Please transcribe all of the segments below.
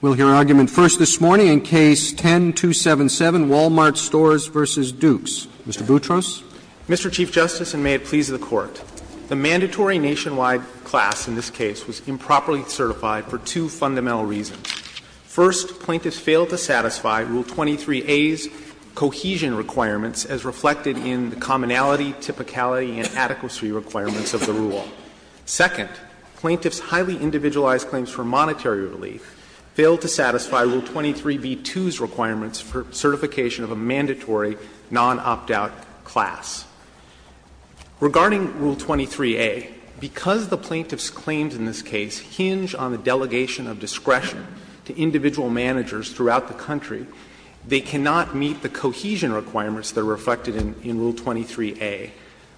We'll hear argument first this morning in Case 10-277, Wal-Mart Stores v. Dukes. Mr. Boutros. Mr. Chief Justice, and may it please the Court, the mandatory nationwide class in this case was improperly certified for two fundamental reasons. First, plaintiffs failed to satisfy Rule 23a's cohesion requirements as reflected in the commonality, typicality, and adequacy requirements of the rule. Second, plaintiffs' highly individualized claims for monetary relief failed to satisfy Rule 23b-2's requirements for certification of a mandatory non-opt-out class. Regarding Rule 23a, because the plaintiffs' claims in this case hinge on the delegation of discretion to individual managers throughout the country, they cannot meet the cohesion requirements that are reflected in Rule 23a.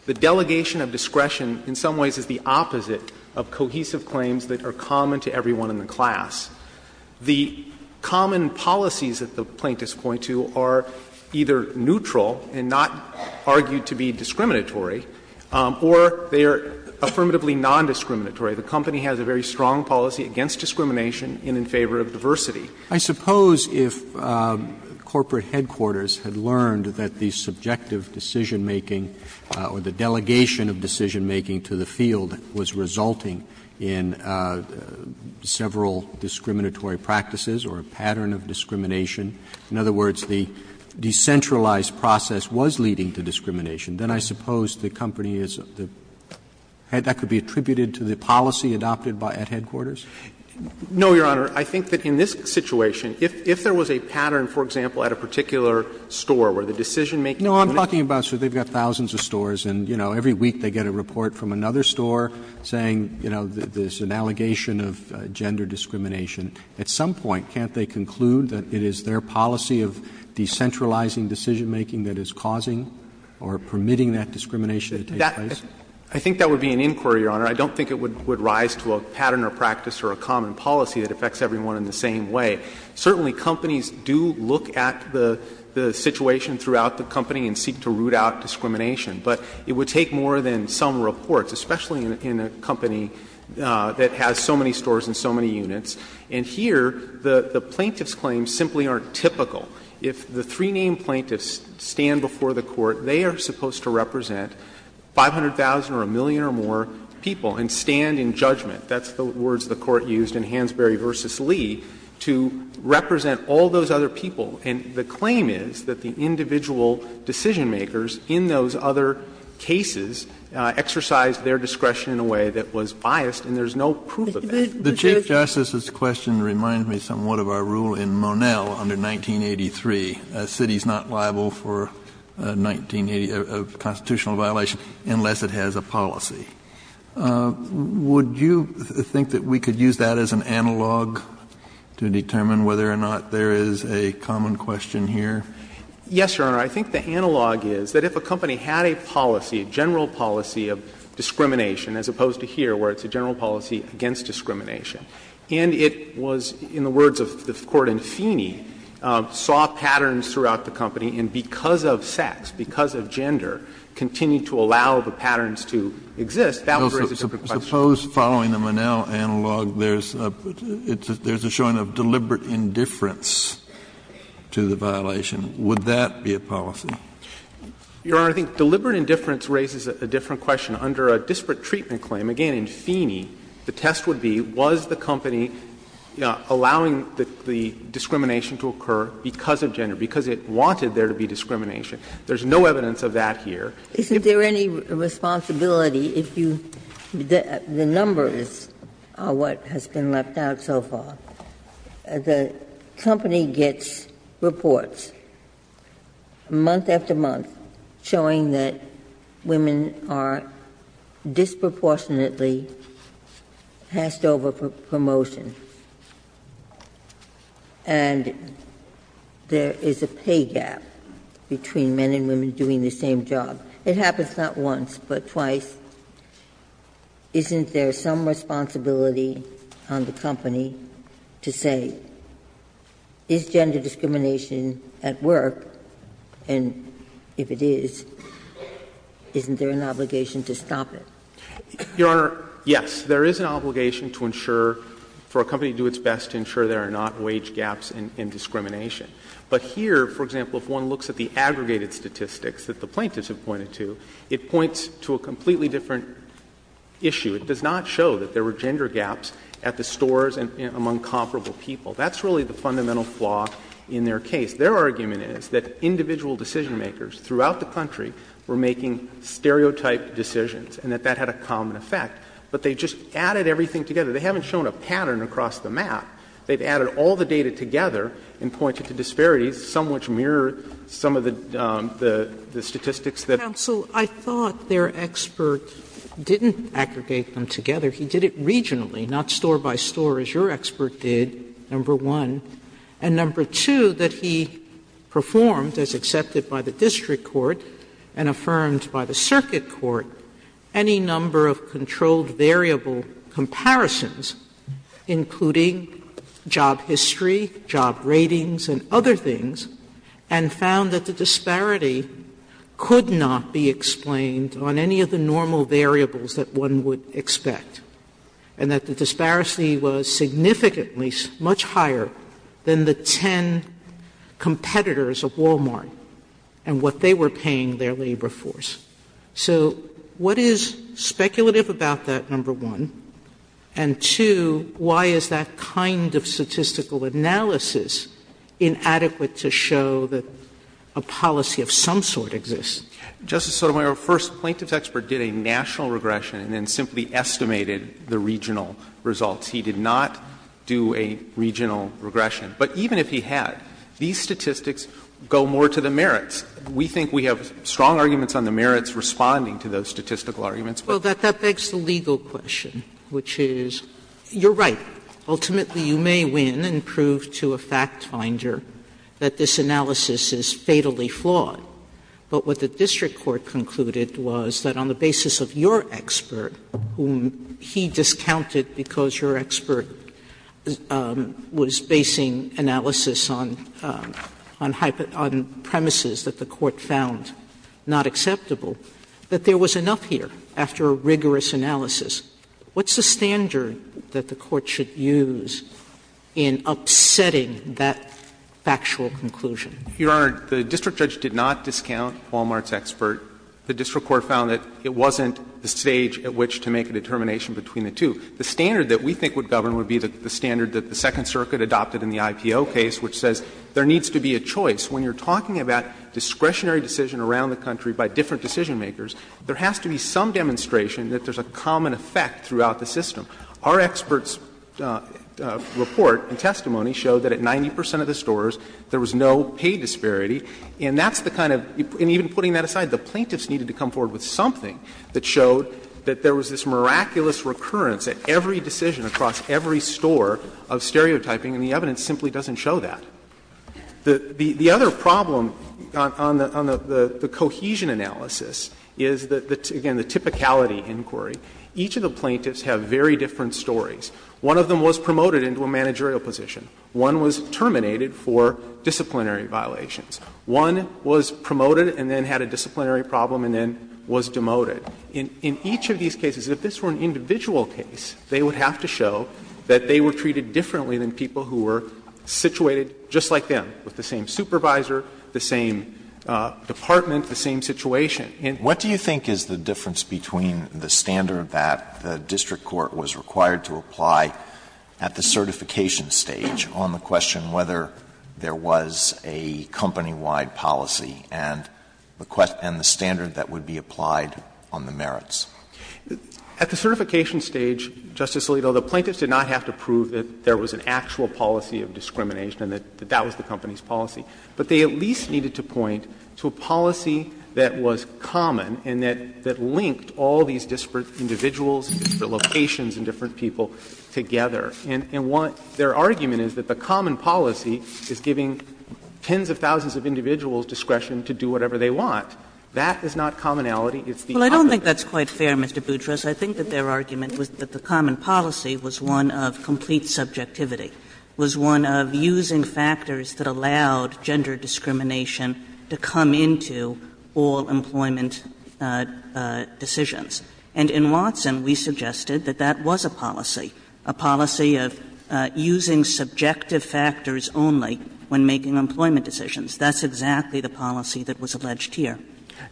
The delegation of discretion in some ways is the opposite of cohesive claims that are common to everyone in the class. The common policies that the plaintiffs point to are either neutral and not argued to be discriminatory, or they are affirmatively nondiscriminatory. The company has a very strong policy against discrimination and in favor of diversity. Roberts, I suppose if corporate headquarters had learned that the subjective decision-making or the delegation of decision-making to the field was resulting in several discriminatory practices or a pattern of discrimination, in other words, the decentralized process was leading to discrimination, then I suppose the company is the head that could be attributed to the policy adopted by headquarters? No, Your Honor. I think that in this situation, if there was a pattern, for example, at a particular store, where the decision-making would be. Roberts, no, I'm talking about, sir, they've got thousands of stores and, you know, every week they get a report from another store saying, you know, there's an allegation of gender discrimination. At some point, can't they conclude that it is their policy of decentralizing decision-making that is causing or permitting that discrimination to take place? I think that would be an inquiry, Your Honor. I don't think it would rise to a pattern or practice or a common policy that affects everyone in the same way. Certainly, companies do look at the situation throughout the company and seek to root out discrimination, but it would take more than some reports, especially in a company that has so many stores and so many units. And here, the plaintiff's claims simply aren't typical. If the three-name plaintiffs stand before the Court, they are supposed to represent 500,000 or a million or more people and stand in judgment. That's the words the Court used in Hansberry v. Lee to represent all those other people. And the claim is that the individual decision-makers in those other cases exercised their discretion in a way that was biased, and there's no proof of that. Kennedy, the Chief Justice's question reminds me somewhat of our rule in Monell under 1983. A city is not liable for a 1980 constitutional violation unless it has a policy. Would you think that we could use that as an analog to determine whether or not there is a common question here? Yes, Your Honor. I think the analog is that if a company had a policy, a general policy of discrimination, as opposed to here where it's a general policy against discrimination, and it was, in the words of the Court in Feeney, saw patterns throughout the company and because of sex, because of gender, continued to allow the patterns to exist, that would raise a different question. Suppose following the Monell analog, there's a showing of deliberate indifference to the violation. Would that be a policy? Your Honor, I think deliberate indifference raises a different question. Under a disparate treatment claim, again in Feeney, the test would be was the company allowing the discrimination to occur because of gender, because it wanted there to be discrimination. There's no evidence of that here. Ginsburg's is there any responsibility if you the numbers are what has been left out so far, the company gets reports month after month showing that women are disproportionately passed over for promotion, and there is a pay gap between men and women doing the same job. It happens not once, but twice. Isn't there some responsibility on the company to say, is gender discrimination at work, and if it is, isn't there an obligation to stop it? Your Honor, yes, there is an obligation to ensure for a company to do its best to ensure there are not wage gaps in discrimination. But here, for example, if one looks at the aggregated statistics that the plaintiffs have pointed to, it points to a completely different issue. It does not show that there were gender gaps at the stores among comparable people. That's really the fundamental flaw in their case. Their argument is that individual decisionmakers throughout the country were making stereotype decisions and that that had a common effect, but they just added everything together. They haven't shown a pattern across the map. They've added all the data together and pointed to disparities, some which mirror some of the statistics that the plaintiffs had. Sotomayor, I thought their expert didn't aggregate them together. He did it regionally, not store by store, as your expert did, number one. And number two, that he performed, as accepted by the district court and affirmed by the circuit court, any number of controlled variable comparisons, including job history, job ratings and other things, and found that the disparity could not be explained on any of the normal variables that one would expect, and that the disparity was significantly much higher than the 10 competitors of Wal-Mart and what they were paying their labor force. So what is speculative about that, number one? And two, why is that kind of statistical analysis inadequate to show that a policy of some sort exists? Justice Sotomayor, first, the plaintiff's expert did a national regression and then simply estimated the regional results. He did not do a regional regression. But even if he had, these statistics go more to the merits. We think we have strong arguments on the merits responding to those statistical arguments, but. Sotomayor, that begs the legal question, which is, you're right, ultimately you may win and prove to a fact finder that this analysis is fatally flawed. But what the district court concluded was that on the basis of your expert, whom he discounted because your expert was basing analysis on premises that were not based on premises that the court found not acceptable, that there was enough here after a rigorous analysis. What's the standard that the court should use in upsetting that factual conclusion? Your Honor, the district judge did not discount Wal-Mart's expert. The district court found that it wasn't the stage at which to make a determination between the two. The standard that we think would govern would be the standard that the Second Circuit adopted in the IPO case, which says there needs to be a choice. When you're talking about discretionary decision around the country by different decision-makers, there has to be some demonstration that there's a common effect throughout the system. Our expert's report and testimony showed that at 90 percent of the stores, there was no pay disparity. And that's the kind of — and even putting that aside, the plaintiffs needed to come forward with something that showed that there was this miraculous recurrence at every decision across every store of stereotyping, and the evidence simply doesn't show that. The other problem on the cohesion analysis is, again, the typicality inquiry. Each of the plaintiffs have very different stories. One of them was promoted into a managerial position. One was terminated for disciplinary violations. One was promoted and then had a disciplinary problem and then was demoted. In each of these cases, if this were an individual case, they would have to show that they were treated differently than people who were situated just like them, with the same supervisor, the same department, the same situation. Alito, what do you think is the difference between the standard that the district court was required to apply at the certification stage on the question whether there was a company-wide policy and the standard that would be applied on the merits? At the certification stage, Justice Alito, the plaintiffs did not have to prove that there was an actual policy of discrimination and that that was the company's policy. But they at least needed to point to a policy that was common and that linked all these disparate individuals, disparate locations and different people together. And their argument is that the common policy is giving tens of thousands of individuals discretion to do whatever they want. That is not commonality, it's the opposite. Well, I don't think that's quite fair, Mr. Boutros. I think that their argument was that the common policy was one of complete subjectivity, was one of using factors that allowed gender discrimination to come into all employment decisions. And in Watson, we suggested that that was a policy, a policy of using subjective factors only when making employment decisions. That's exactly the policy that was alleged here.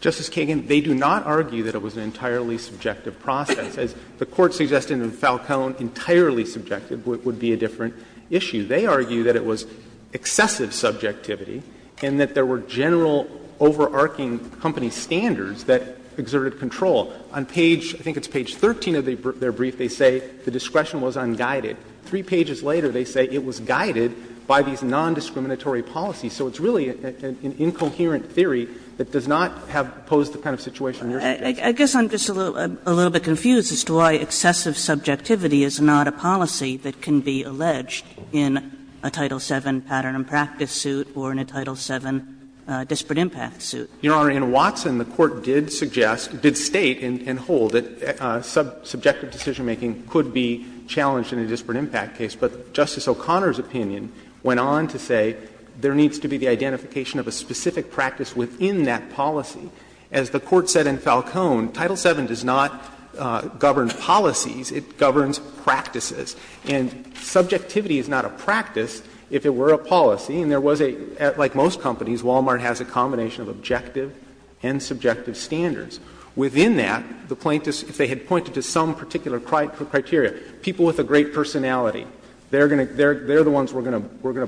Justice Kagan, they do not argue that it was an entirely subjective process. As the Court suggested in Falcone, entirely subjective would be a different issue. They argue that it was excessive subjectivity and that there were general overarching company standards that exerted control. On page — I think it's page 13 of their brief, they say the discretion was unguided. Three pages later, they say it was guided by these nondiscriminatory policies. So it's really an incoherent theory that does not have posed the kind of situation you're suggesting. I guess I'm just a little bit confused as to why excessive subjectivity is not a policy that can be alleged in a Title VII pattern and practice suit or in a Title VII disparate impact suit. Your Honor, in Watson, the Court did suggest, did state and hold that subjective decisionmaking could be challenged in a disparate impact case. But Justice O'Connor's opinion went on to say there needs to be the identification of a specific practice within that policy. As the Court said in Falcone, Title VII does not govern policies, it governs practices. And subjectivity is not a practice if it were a policy. And there was a — like most companies, Walmart has a combination of objective and subjective standards. Within that, the plaintiffs, if they had pointed to some particular criteria, people with a great personality, they're going to — they're the ones we're going to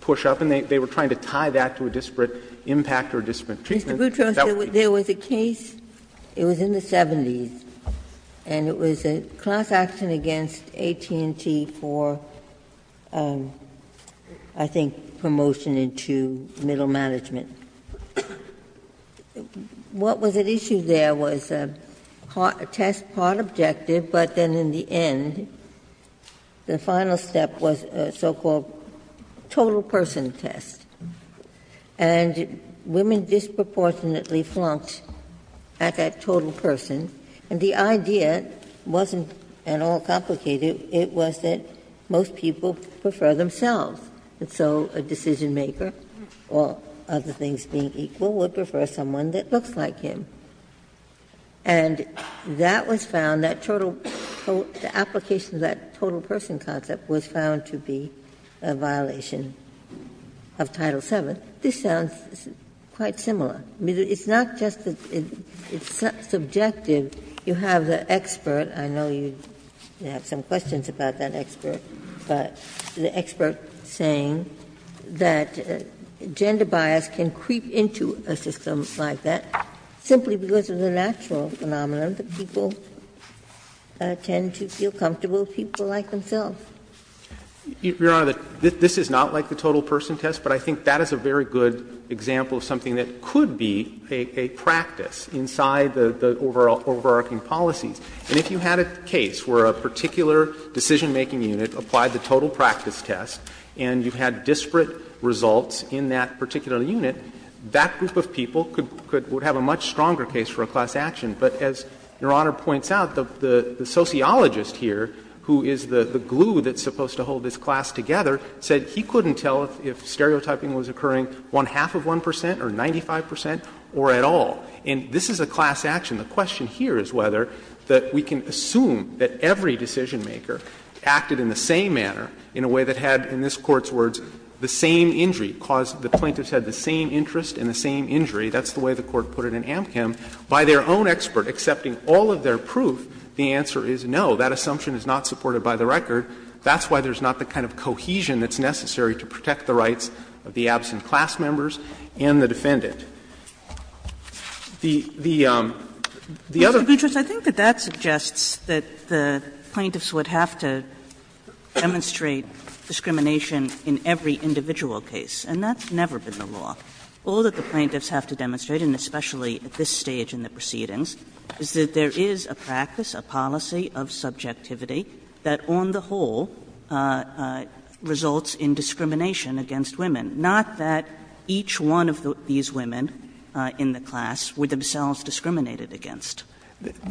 push up. And they were trying to tie that to a disparate impact or disparate treatment. Ginsburg. There was a case, it was in the 70s, and it was a class action against AT&T for, I think, promotion into middle management. What was at issue there was a test part objective, but then in the end, the final step was a so-called total person test. And women disproportionately flunked at that total person. And the idea wasn't at all complicated. It was that most people prefer themselves. And so a decisionmaker, all other things being equal, would prefer someone that looks like him. And that was found, that total — the application of that total person concept was found to be a violation of Title VII. This sounds quite similar. I mean, it's not just that it's subjective. You have the expert. I know you have some questions about that expert. But the expert saying that gender bias can creep into a system like that simply because of the natural phenomenon that people tend to feel comfortable with people like themselves. Your Honor, this is not like the total person test, but I think that is a very good example of something that could be a practice inside the overarching policies. And if you had a case where a particular decisionmaking unit applied the total practice test and you had disparate results in that particular unit, that group of people could have a much stronger case for a class action. But as Your Honor points out, the sociologist here, who is the glue that's supposed to hold this class together, said he couldn't tell if stereotyping was occurring one-half of 1 percent or 95 percent or at all. And this is a class action. The question here is whether that we can assume that every decisionmaker acted in the same manner, in a way that had, in this Court's words, the same injury, because the plaintiffs had the same interest and the same injury. That's the way the Court put it in Amchem. By their own expert accepting all of their proof, the answer is no. That assumption is not supported by the record. That's why there's not the kind of cohesion that's necessary to protect the rights of the absent class members and the defendant. The other thing that's not supported by the record is that the plaintiffs would have to demonstrate discrimination in every individual case, and that's never been the law. All that the plaintiffs have to demonstrate, and especially at this stage in the proceedings, is that there is a practice, a policy of subjectivity that on the whole results in discrimination against women, not that each one of these women has to be a woman in the class, with themselves discriminated against.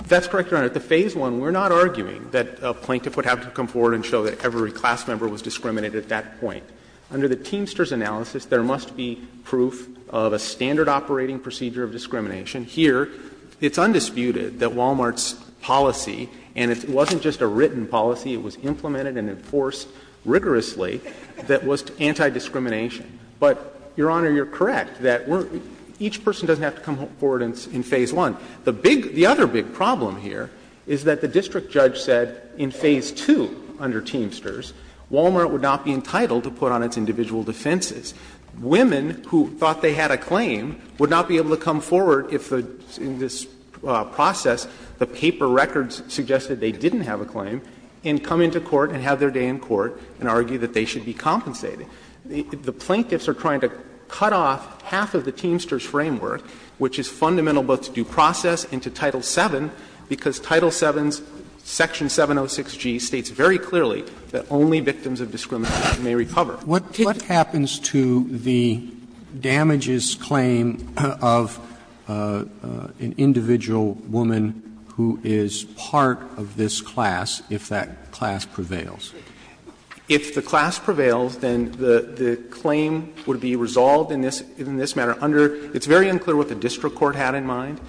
That's correct, Your Honor. At the phase one, we're not arguing that a plaintiff would have to come forward and show that every class member was discriminated at that point. Under the Teamster's analysis, there must be proof of a standard operating procedure of discrimination. Here, it's undisputed that Walmart's policy, and it wasn't just a written policy, it was implemented and enforced rigorously, that was anti-discrimination. But, Your Honor, you're correct that each person doesn't have to come forward in phase one. The big — the other big problem here is that the district judge said in phase two under Teamster's, Walmart would not be entitled to put on its individual defenses. Women who thought they had a claim would not be able to come forward if, in this process, the paper records suggested they didn't have a claim, and come into court and have their day in court and argue that they should be compensated. The plaintiffs are trying to cut off half of the Teamster's framework, which is fundamental both to due process and to Title VII, because Title VII's section 706G states very clearly that only victims of discrimination may recover. Roberts. Roberts. What happens to the damages claim of an individual woman who is part of this class if that class prevails? If the class prevails, then the claim would be resolved in this — in this manner under — it's very unclear what the district court had in mind.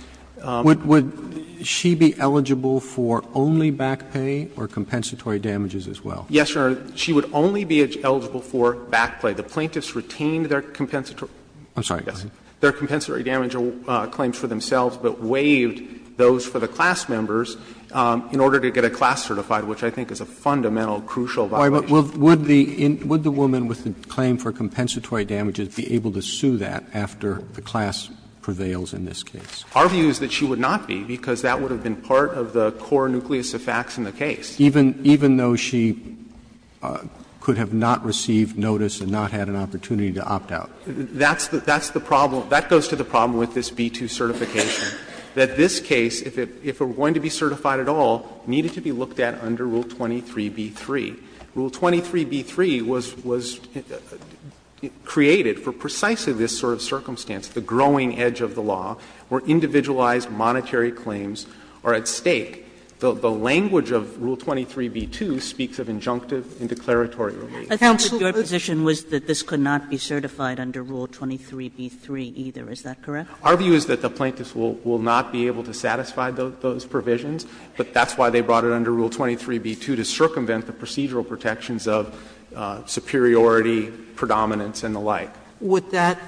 Would she be eligible for only back pay or compensatory damages as well? Yes, Your Honor. She would only be eligible for back pay. The plaintiffs retained their compensatory damages claims for themselves, but waived those for the class members in order to get a class certified, which I think is a fundamental crucial violation. Would the woman with the claim for compensatory damages be able to sue that after the class prevails in this case? Our view is that she would not be, because that would have been part of the core nucleus of facts in the case. Even though she could have not received notice and not had an opportunity to opt out? That's the problem. That goes to the problem with this B-2 certification, that this case, if it were going to be certified at all, needed to be looked at under Rule 23b-3. Rule 23b-3 was — was created for precisely this sort of circumstance, the growing edge of the law, where individualized monetary claims are at stake. The language of Rule 23b-2 speaks of injunctive and declaratory relief. I thought that your position was that this could not be certified under Rule 23b-3 either. Is that correct? Our view is that the plaintiffs will not be able to satisfy those provisions, but that's why they brought it under Rule 23b-2, to circumvent the procedural protections of superiority, predominance, and the like. Sotomayor, would that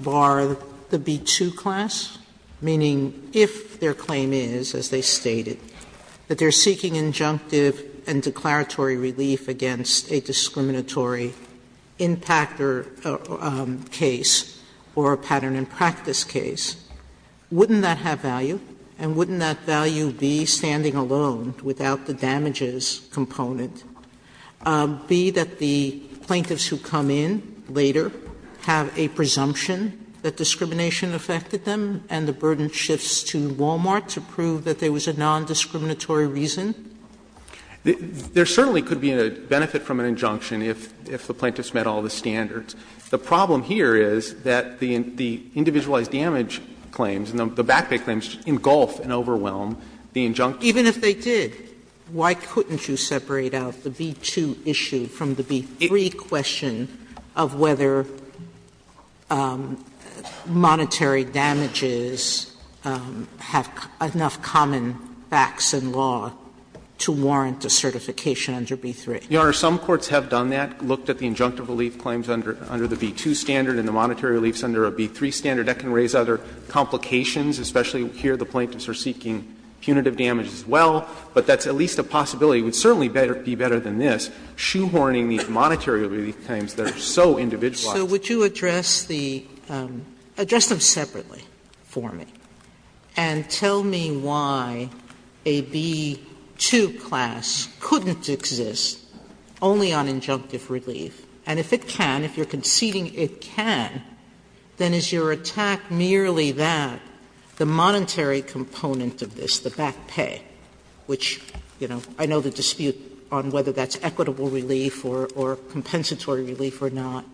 bar the B-2 class? Meaning, if their claim is, as they stated, that they are seeking injunctive and declaratory relief against a discriminatory impact or case or a pattern and practice case, wouldn't that have value? And wouldn't that value be standing alone without the damages component? B, that the plaintiffs who come in later have a presumption that discrimination affected them and the burden shifts to Walmart to prove that there was a nondiscriminatory reason? There certainly could be a benefit from an injunction if the plaintiffs met all the standards. The problem here is that the individualized damage claims, the back pay claims, engulf and overwhelm the injunctive relief. Sotomayor, even if they did, why couldn't you separate out the B-2 issue from the B-3 question of whether monetary damages have enough common facts and law to warrant a certification under B-3? Your Honor, some courts have done that, looked at the injunctive relief claims under the B-2 standard and the monetary reliefs under a B-3 standard. That can raise other complications, especially here the plaintiffs are seeking punitive damage as well. But that's at least a possibility. It would certainly be better than this, shoehorning these monetary relief claims that are so individualized. Sotomayor, would you address the – address them separately for me and tell me why a B-2 class couldn't exist only on injunctive relief? And if it can, if you're conceding it can, then is your attack merely that the monetary component of this, the back pay, which, you know, I know the dispute on whether that's equitable relief or compensatory relief or not,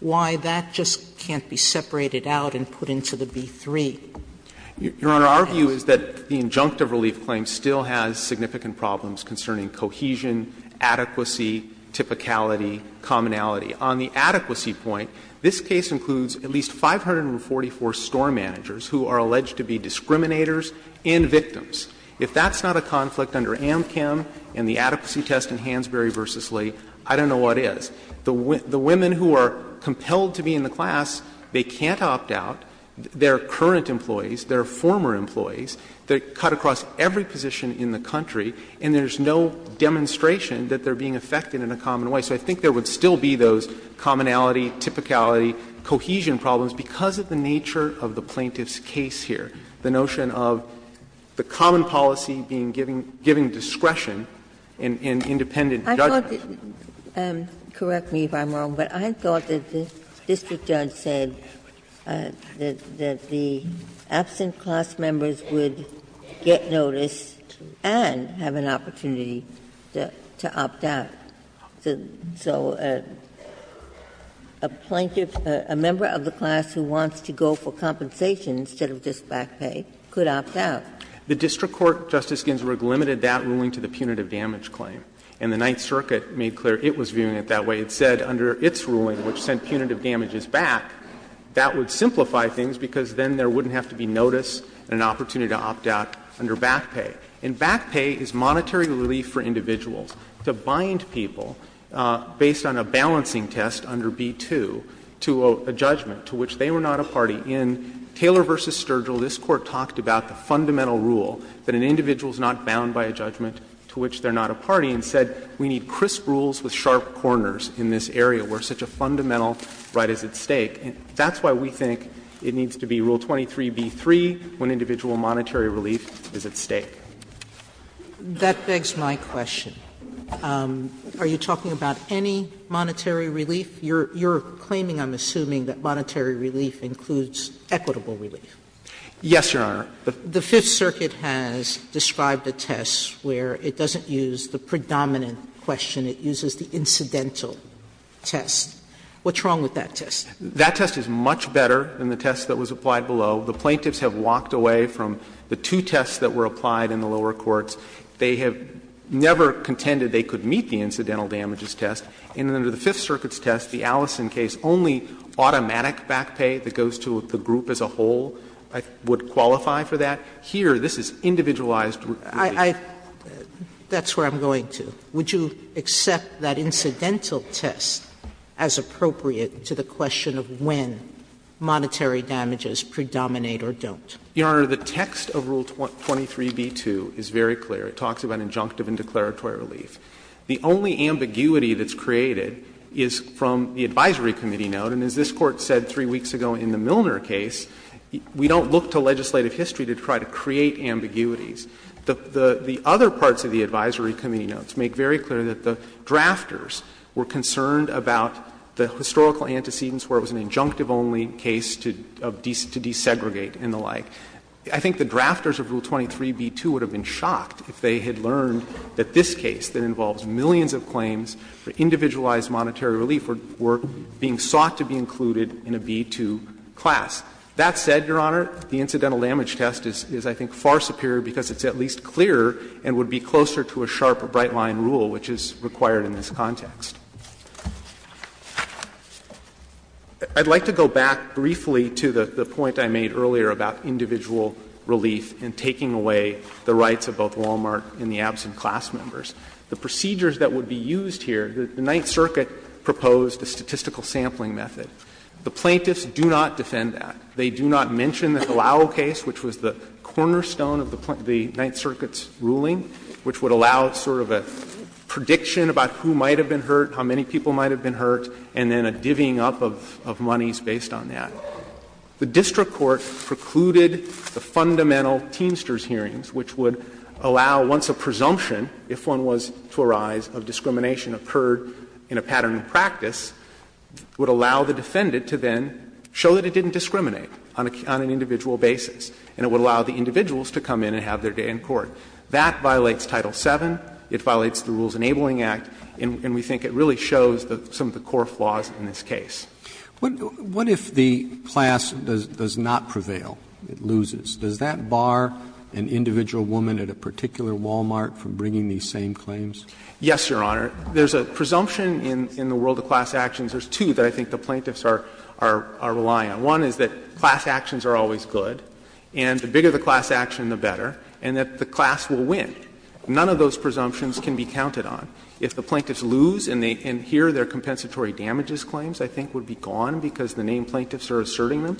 why that just can't be separated out and put into the B-3? Your Honor, our view is that the injunctive relief claim still has significant problems concerning cohesion, adequacy, typicality, commonality. On the adequacy point, this case includes at least 544 store managers who are alleged to be discriminators and victims. If that's not a conflict under AMCAM and the adequacy test in Hansberry v. Lee, I don't know what is. The women who are compelled to be in the class, they can't opt out. They are current employees, they are former employees, they are cut across every position in the country, and there is no demonstration that they are being affected in a common way. So I think there would still be those commonality, typicality, cohesion problems because of the nature of the plaintiff's case here, the notion of the common policy being given discretion in independent judgment. Well, correct me if I'm wrong, but I thought that the district judge said that the absent class members would get notice and have an opportunity to opt out. So a plaintiff, a member of the class who wants to go for compensation instead of just back pay, could opt out. The district court, Justice Ginsburg, limited that ruling to the punitive damage claim. And the Ninth Circuit made clear it was viewing it that way. It said under its ruling, which sent punitive damages back, that would simplify things because then there wouldn't have to be notice and an opportunity to opt out under back pay. And back pay is monetary relief for individuals. To bind people, based on a balancing test under B-2, to a judgment to which they were not a party in, Taylor v. Sturgill, this Court talked about the fundamental rule, that an individual is not bound by a judgment to which they are not a party, and said we need crisp rules with sharp corners in this area, where such a fundamental right is at stake. That's why we think it needs to be Rule 23b-3 when individual monetary relief is at stake. Sotomayor, that begs my question. Are you talking about any monetary relief? You're claiming, I'm assuming, that monetary relief includes equitable relief. Yes, Your Honor. Sotomayor, the Fifth Circuit has described a test where it doesn't use the predominant question, it uses the incidental test. What's wrong with that test? That test is much better than the test that was applied below. The plaintiffs have walked away from the two tests that were applied in the lower courts. They have never contended they could meet the incidental damages test. And under the Fifth Circuit's test, the Allison case, only automatic back pay that would qualify for that, here this is individualized relief. That's where I'm going to. Would you accept that incidental test as appropriate to the question of when monetary damages predominate or don't? Your Honor, the text of Rule 23b-2 is very clear. It talks about injunctive and declaratory relief. The only ambiguity that's created is from the advisory committee note, and as this legislative history did try to create ambiguities, the other parts of the advisory committee notes make very clear that the drafters were concerned about the historical antecedents where it was an injunctive-only case to desegregate and the like. I think the drafters of Rule 23b-2 would have been shocked if they had learned that this case that involves millions of claims for individualized monetary relief were being sought to be included in a b-2 class. That said, Your Honor, the incidental damage test is, I think, far superior because it's at least clearer and would be closer to a sharper bright-line rule which is required in this context. I'd like to go back briefly to the point I made earlier about individual relief and taking away the rights of both Walmart and the absent class members. The procedures that would be used here, the Ninth Circuit proposed a statistical sampling method. The plaintiffs do not defend that. They do not mention the Halao case, which was the cornerstone of the Ninth Circuit's ruling, which would allow sort of a prediction about who might have been hurt, how many people might have been hurt, and then a divvying up of monies based on that. The district court precluded the fundamental Teamsters hearings, which would allow once a presumption, if one was to arise, of discrimination occurred in a pattern of practice, would allow the defendant to then show that it didn't discriminate on an individual basis. And it would allow the individuals to come in and have their day in court. That violates Title VII, it violates the Rules Enabling Act, and we think it really shows some of the core flaws in this case. Roberts, what if the class does not prevail, it loses? Does that bar an individual woman at a particular Walmart from bringing these same claims? Yes, Your Honor. There's a presumption in the world of class actions, there's two that I think the plaintiffs are relying on. One is that class actions are always good, and the bigger the class action, the better, and that the class will win. None of those presumptions can be counted on. If the plaintiffs lose and they adhere their compensatory damages claims, I think would be gone because the named plaintiffs are asserting them.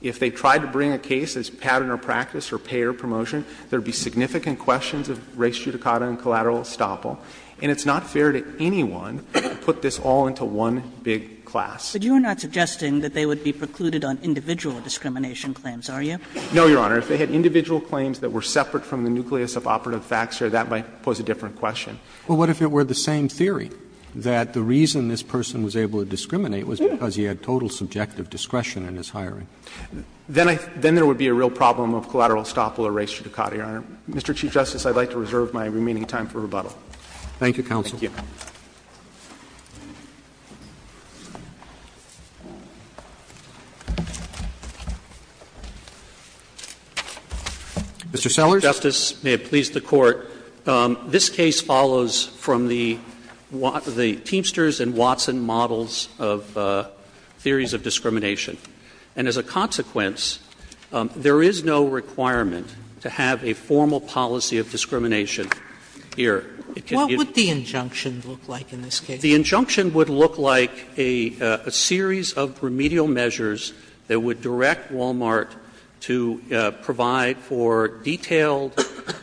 If they tried to bring a case as pattern or practice or pay or promotion, there would be significant questions of res judicata and collateral estoppel. And it's not fair to anyone to put this all into one big class. But you are not suggesting that they would be precluded on individual discrimination claims, are you? No, Your Honor. If they had individual claims that were separate from the nucleus of operative facts, Your Honor, that might pose a different question. But what if it were the same theory, that the reason this person was able to discriminate was because he had total subjective discretion in his hiring? Then there would be a real problem of collateral estoppel or res judicata, Your Honor. Mr. Chief Justice, I would like to reserve my remaining time for rebuttal. Thank you, counsel. Thank you. Mr. Sellers. Justice, may it please the Court, this case follows from the Teamsters and Watson models of theories of discrimination. And as a consequence, there is no requirement to have a formal policy of discrimination here. What would the injunction look like in this case? The injunction would look like a series of remedial measures that would direct Walmart to provide for detailed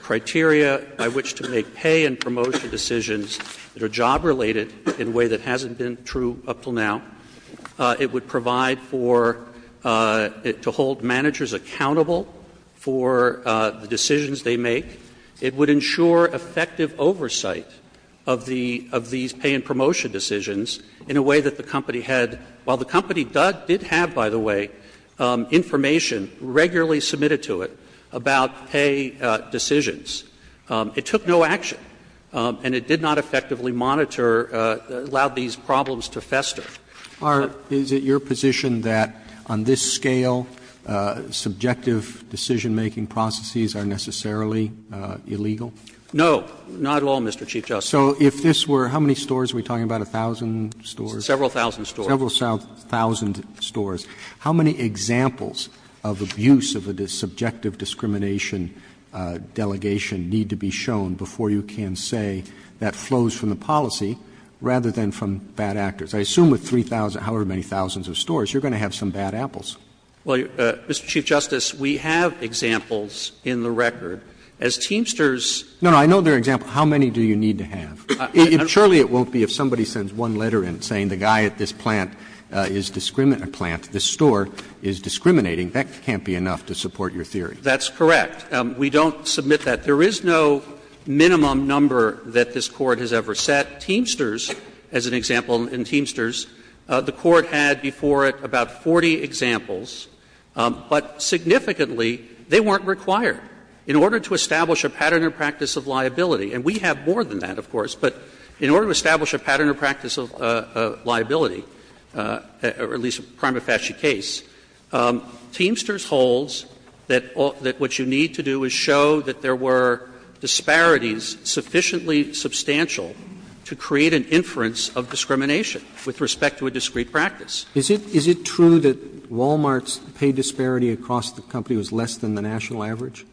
criteria by which to make pay and promotion decisions that are job-related in a way that hasn't been true up until now. It would provide for it to hold managers accountable for the decisions they make. It would ensure effective oversight of the of these pay and promotion decisions in a way that the company had, while the company did have, by the way, information regularly submitted to it about pay decisions, it took no action and it did not effectively monitor, allowed these problems to fester. Are, is it your position that on this scale, subjective decision-making processes are necessarily illegal? No, not at all, Mr. Chief Justice. So if this were, how many stores are we talking about, 1,000 stores? Several thousand stores. Several thousand stores. How many examples of abuse of a subjective discrimination delegation need to be shown before you can say that flows from the policy rather than from bad actors? I assume with 3,000, however many thousands of stores, you're going to have some bad apples. Well, Mr. Chief Justice, we have examples in the record. As Teamsters. No, no, I know there are examples. How many do you need to have? Surely it won't be if somebody sends one letter in saying the guy at this plant is discriminating, plant, this store is discriminating. That can't be enough to support your theory. That's correct. We don't submit that. There is no minimum number that this Court has ever set. Teamsters, as an example in Teamsters, the Court had before it about 40 examples but significantly they weren't required in order to establish a pattern or practice of liability. And we have more than that, of course, but in order to establish a pattern or practice of liability, or at least a prima facie case, Teamsters holds that what you need to do is show that there were disparities sufficiently substantial to create an inference of discrimination with respect to a discrete practice. Is it true that Wal-Mart's pay disparity across the company was less than the national average?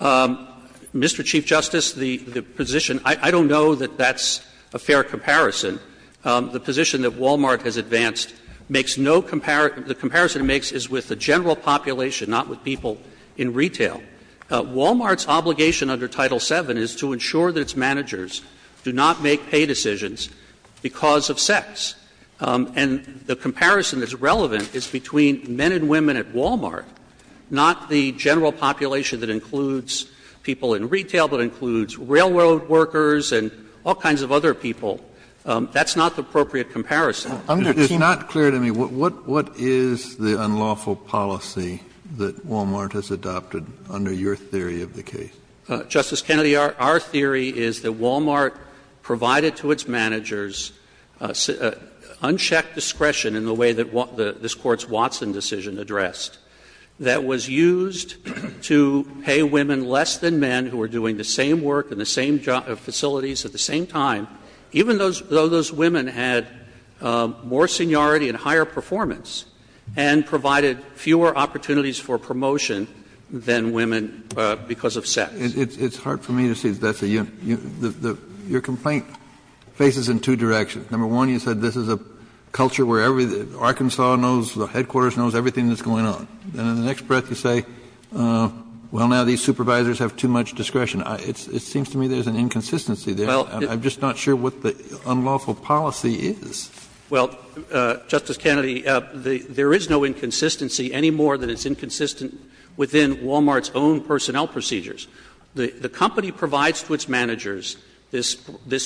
Mr. Chief Justice, the position — I don't know that that's a fair comparison. The position that Wal-Mart has advanced makes no — the comparison it makes is with the general population, not with people in retail. Wal-Mart's obligation under Title VII is to ensure that its managers do not make pay decisions because of sex. And the comparison that's relevant is between men and women at Wal-Mart, not the general population that includes people in retail, but includes railroad workers and all kinds of other people. That's not the appropriate comparison. Kennedy. Kennedy. It's not clear to me, what is the unlawful policy that Wal-Mart has adopted under your theory of the case? Justice Kennedy, our theory is that Wal-Mart provided to its managers unchecked discretion in the way that this Court's Watson decision addressed that was used to pay women less than men who were doing the same work in the same facilities at the same time, even though those women had more seniority and higher performance and provided fewer opportunities for promotion than women because of sex. It's hard for me to see that's a — your complaint faces in two directions. Number one, you said this is a culture where Arkansas knows, the headquarters knows everything that's going on. And in the next breath you say, well, now these supervisors have too much discretion. It seems to me there's an inconsistency there. I'm just not sure what the unlawful policy is. Well, Justice Kennedy, there is no inconsistency any more than it's inconsistent within Wal-Mart's own personnel procedures. The company provides to its managers this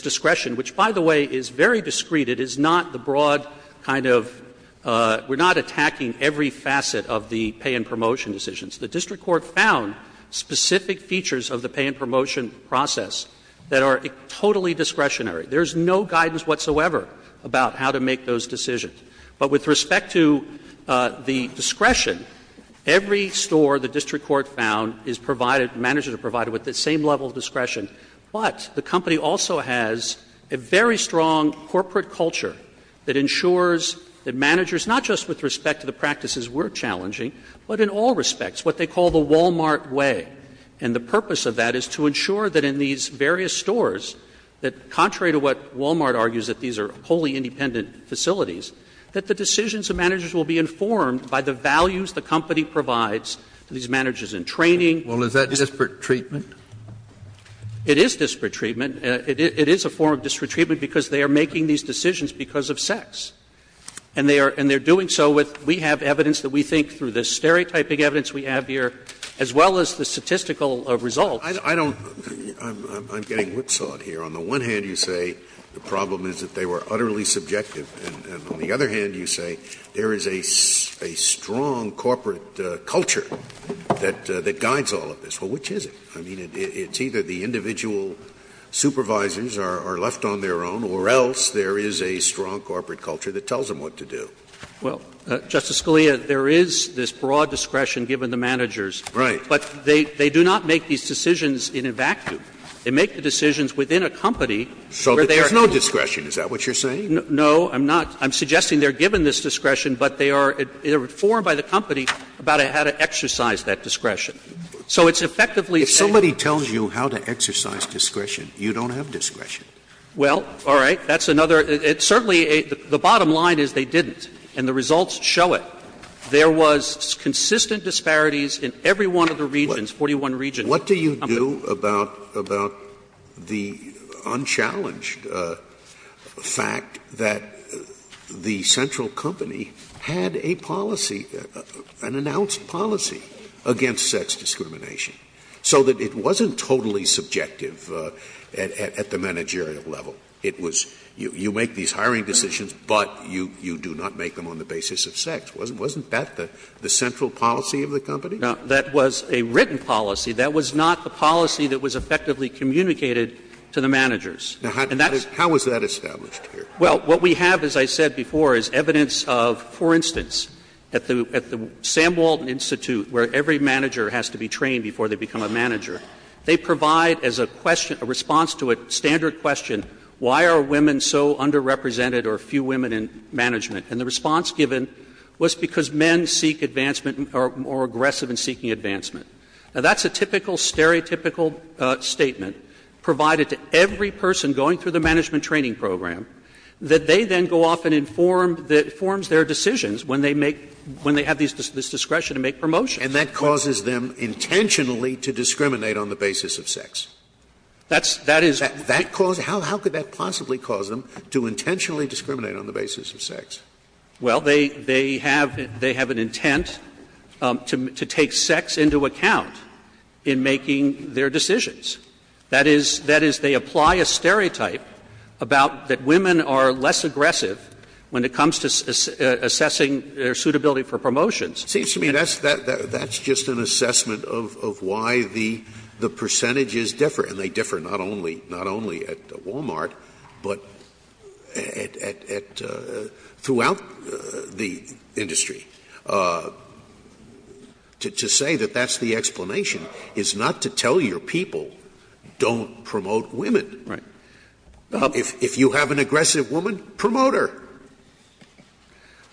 discretion, which, by the way, is very discreet. It is not the broad kind of — we're not attacking every facet of the pay and promotion decisions. The district court found specific features of the pay and promotion process that are totally discretionary. There's no guidance whatsoever about how to make those decisions. But with respect to the discretion, every store the district court found is provided — managers are provided with the same level of discretion. But the company also has a very strong corporate culture that ensures that managers — not just with respect to the practices we're challenging, but in all respects, what they call the Wal-Mart way. And the purpose of that is to ensure that in these various stores, that contrary to what Wal-Mart argues, that these are wholly independent facilities, that the decisions of managers will be informed by the values the company provides to these managers in training. Well, is that disparate treatment? It is disparate treatment. It is a form of disparate treatment because they are making these decisions because of sex. And they are — and they're doing so with — we have evidence that we think through the stereotyping evidence we have here, as well as the statistical results. I don't — I'm getting whipsawed here. On the one hand, you say the problem is that they were utterly subjective. And on the other hand, you say there is a strong corporate culture that guides all of this. Well, which is it? I mean, it's either the individual supervisors are left on their own, or else there is a strong corporate culture that tells them what to do. Well, Justice Scalia, there is this broad discretion given to managers. Right. But they do not make these decisions in a vacuum. They make the decisions within a company where they are — So there's no discretion. Is that what you're saying? No, I'm not. I'm suggesting they are given this discretion, but they are informed by the company about how to exercise that discretion. So it's effectively saying — If somebody tells you how to exercise discretion, you don't have discretion. Well, all right. That's another — it's certainly a — the bottom line is they didn't. And the results show it. There was consistent disparities in every one of the regions, 41 regions. What do you do about the unchallenged fact that the central company had a policy, an announced policy, against sex discrimination, so that it wasn't totally subjective at the managerial level? It was you make these hiring decisions, but you do not make them on the basis of sex. Wasn't that the central policy of the company? No. That was a written policy. That was not the policy that was effectively communicated to the managers. And that's — Now, how is that established here? Well, what we have, as I said before, is evidence of, for instance, at the Sam Walton Institute, where every manager has to be trained before they become a manager, they provide as a question, a response to a standard question, why are women so underrepresented or few women in management? And the response given was because men seek advancement or are more aggressive in seeking advancement. Now, that's a typical, stereotypical statement provided to every person going through the management training program, that they then go off and inform — that informs their decisions when they make — when they have this discretion to make promotions. And that causes them intentionally to discriminate on the basis of sex. That's — that is — That cause — how could that possibly cause them to intentionally discriminate on the basis of sex? Well, they — they have — they have an intent to take sex into account in making their decisions. That is — that is, they apply a stereotype about — that women are less aggressive when it comes to assessing their suitability for promotions. It seems to me that's — that's just an assessment of why the percentages differ, and they differ not only — not only at Wal-Mart, but at — at — throughout the industry. To say that that's the explanation is not to tell your people don't promote women. Right. If you have an aggressive woman, promote her.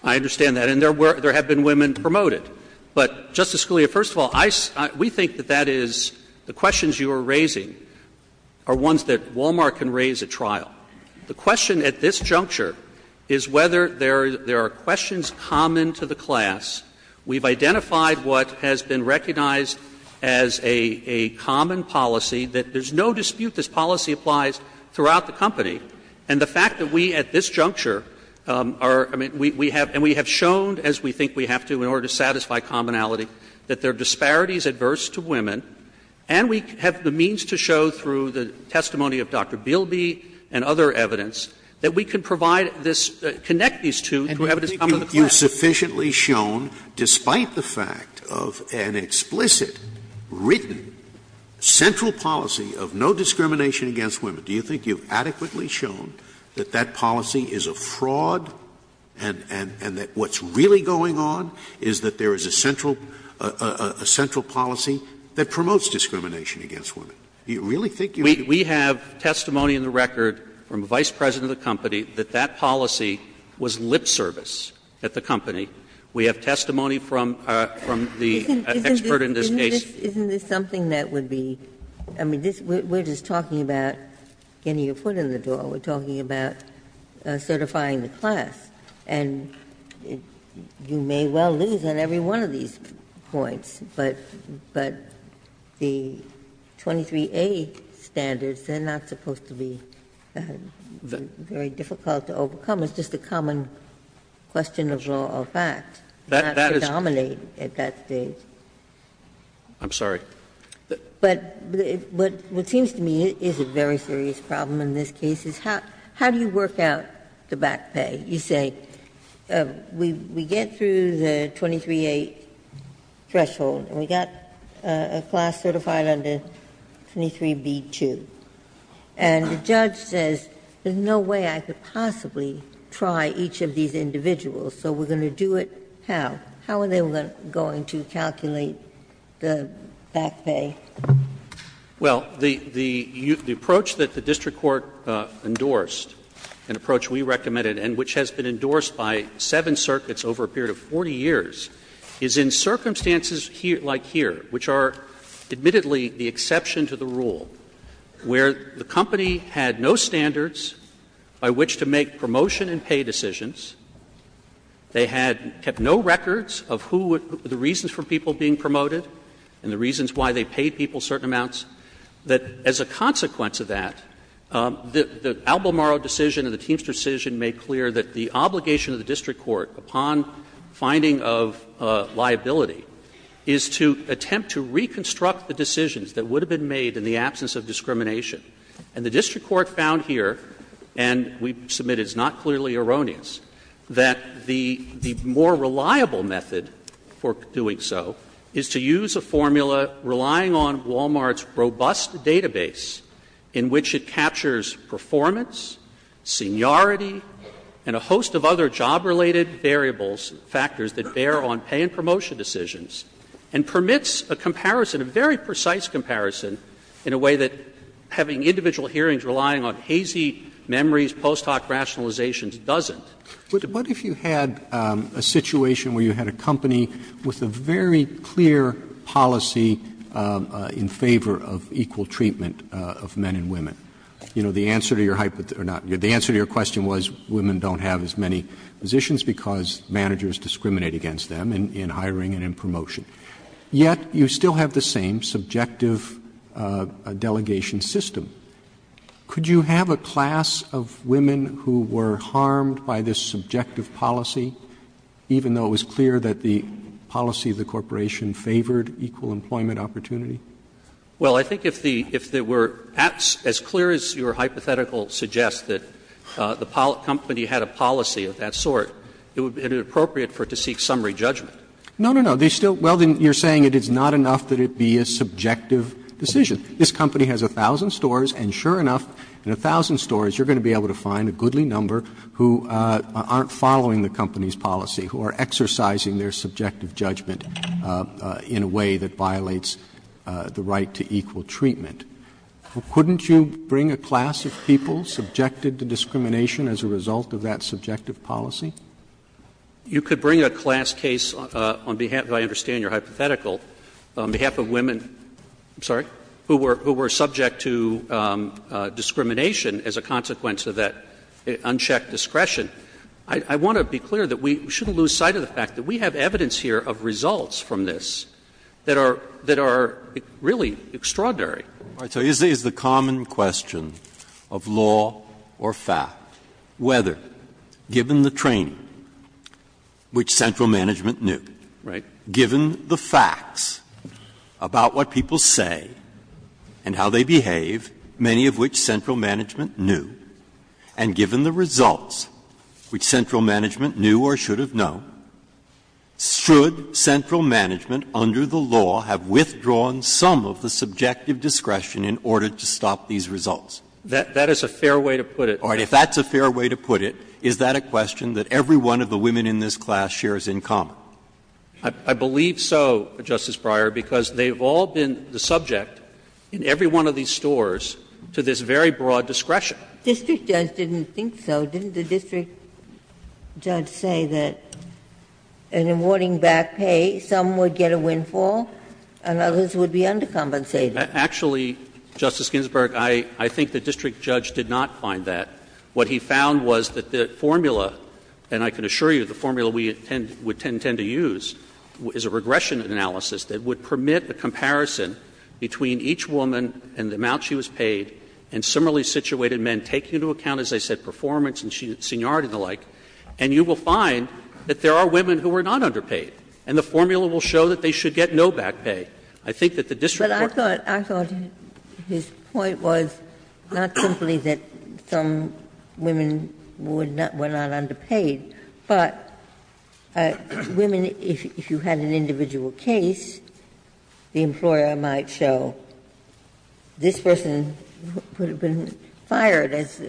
I understand that. And there were — there have been women promoted. But Justice Scalia, first of all, I — we think that that is — the questions you are raising are ones that Wal-Mart can raise at trial. The question at this juncture is whether there are questions common to the class. We've identified what has been recognized as a common policy, that there's no dispute this policy applies throughout the company. And the fact that we at this juncture are — I mean, we have — and we have shown, as we think we have to in order to satisfy commonality, that there are disparities adverse to women, and we have the means to show through the testimony of Dr. Bielby and other evidence that we can provide this — connect these two to evidence common to the class. Scalia. And do you think you've sufficiently shown, despite the fact of an explicit, written, central policy of no discrimination against women, do you think you've sufficiently shown that that policy is a fraud, and that what's really going on is that there is a central — a central policy that promotes discrimination against women? Do you really think you have? We have testimony in the record from the vice president of the company that that policy was lip service at the company. We have testimony from the expert in this case. Isn't this something that would be — I mean, this — we're just talking about getting your foot in the door. We're talking about certifying the class. And you may well lose on every one of these points, but the 23A standards, they're not supposed to be very difficult to overcome. It's just a common question of law or fact. Not to dominate at that stage. But what seems to me is a very simple question. And I think that's a serious problem in this case, is how do you work out the back pay? You say, we get through the 23A threshold and we got a class certified under 23B-2. And the judge says, there's no way I could possibly try each of these individuals, so we're going to do it how? How are they going to calculate the back pay? Well, the approach that the district court endorsed, an approach we recommended and which has been endorsed by seven circuits over a period of 40 years, is in circumstances like here, which are admittedly the exception to the rule, where the company had no standards by which to make promotion and pay decisions. They had kept no records of who would be the reasons for people being promoted and the reasons why they paid people certain amounts, that as a consequence of that, the Albemarle decision and the Teamster decision made clear that the obligation of the district court, upon finding of liability, is to attempt to reconstruct the decisions that would have been made in the absence of discrimination. And the district court found here, and we submit it's not clearly erroneous, that the more reliable method for doing so is to use a formula relying on Wal-Mart's robust database in which it captures performance, seniority, and a host of other job-related variables, factors that bear on pay and promotion decisions, and permits a comparison, a very precise comparison, in a way that having individual hearings relying on hazy memories, post-hoc rationalizations, doesn't. Roberts, what if you had a situation where you had a company with a very clear policy in favor of equal treatment of men and women? You know, the answer to your question was women don't have as many positions because managers discriminate against them in hiring and in promotion. Yet, you still have the same subjective delegation system. Could you have a class of women who were harmed by this subjective policy, even though it was clear that the policy of the corporation favored equal employment opportunity? Well, I think if the as clear as your hypothetical suggests that the company had a policy of that sort, it would be inappropriate for it to seek summary judgment. No, no, no. They still, well, then you're saying it is not enough that it be a subjective decision. This company has a thousand stores, and sure enough, in a thousand stores you're going to be able to find a goodly number who aren't following the company's policy, who are exercising their subjective judgment in a way that violates the right to equal treatment. Couldn't you bring a class of people subjected to discrimination as a result of that subjective policy? You could bring a class case on behalf of, I understand your hypothetical, on behalf of women, I'm sorry, who were subject to discrimination as a consequence of that unchecked discretion. I want to be clear that we shouldn't lose sight of the fact that we have evidence here of results from this that are really extraordinary. Breyer. So is the common question of law or fact whether, given the training which central management knew, given the facts about what people say and how they behave, many of which central management knew, and given the results which central management knew or should have known, should central management under the law have withdrawn some of the subjective discretion in order to stop these results? That is a fair way to put it. All right. If that's a fair way to put it, is that a question that every one of the women in this class shares in common? I believe so, Justice Breyer, because they've all been the subject in every one of these stores to this very broad discretion. District judge didn't think so. Didn't the district judge say that in awarding back pay, some would get a windfall and others would be undercompensated? Actually, Justice Ginsburg, I think the district judge did not find that. What he found was that the formula, and I can assure you the formula we tend to use, is a regression analysis that would permit a comparison between each woman and the amount she was paid and similarly situated men, taking into account, as I said, performance and seniority and the like. And you will find that there are women who are not underpaid, and the formula will show that they should get no back pay. I think that the district court I thought his point was not simply that some women were not underpaid, but women, if you had an individual case, the employer might show this person would have been fired as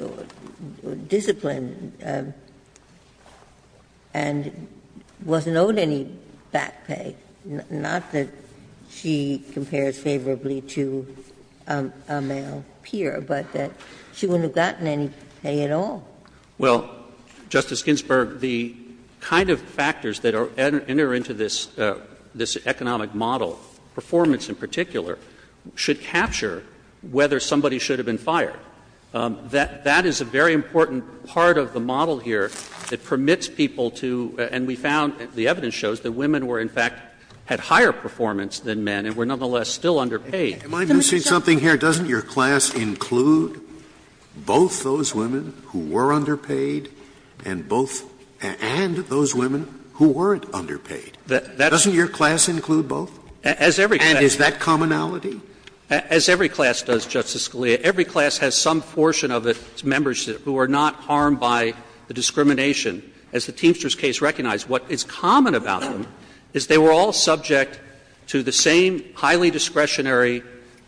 disciplined and wasn't owed any back pay, not that she compares favorably to a male peer, but that she wouldn't have gotten any pay at all. Well, Justice Ginsburg, the kind of factors that enter into this economic model, performance in particular, should capture whether somebody should have been fired. That is a very important part of the model here that permits people to and we found the evidence shows that women were in fact had higher performance than men and were nonetheless still underpaid. Am I missing something here? Doesn't your class include both those women who were underpaid and both and those women who weren't underpaid? Doesn't your class include both? And is that commonality? As every class does, Justice Scalia, every class has some portion of its members who are not harmed by the discrimination. As the Teamsters case recognized, what is common about them is they were all subject to the same highly discretionary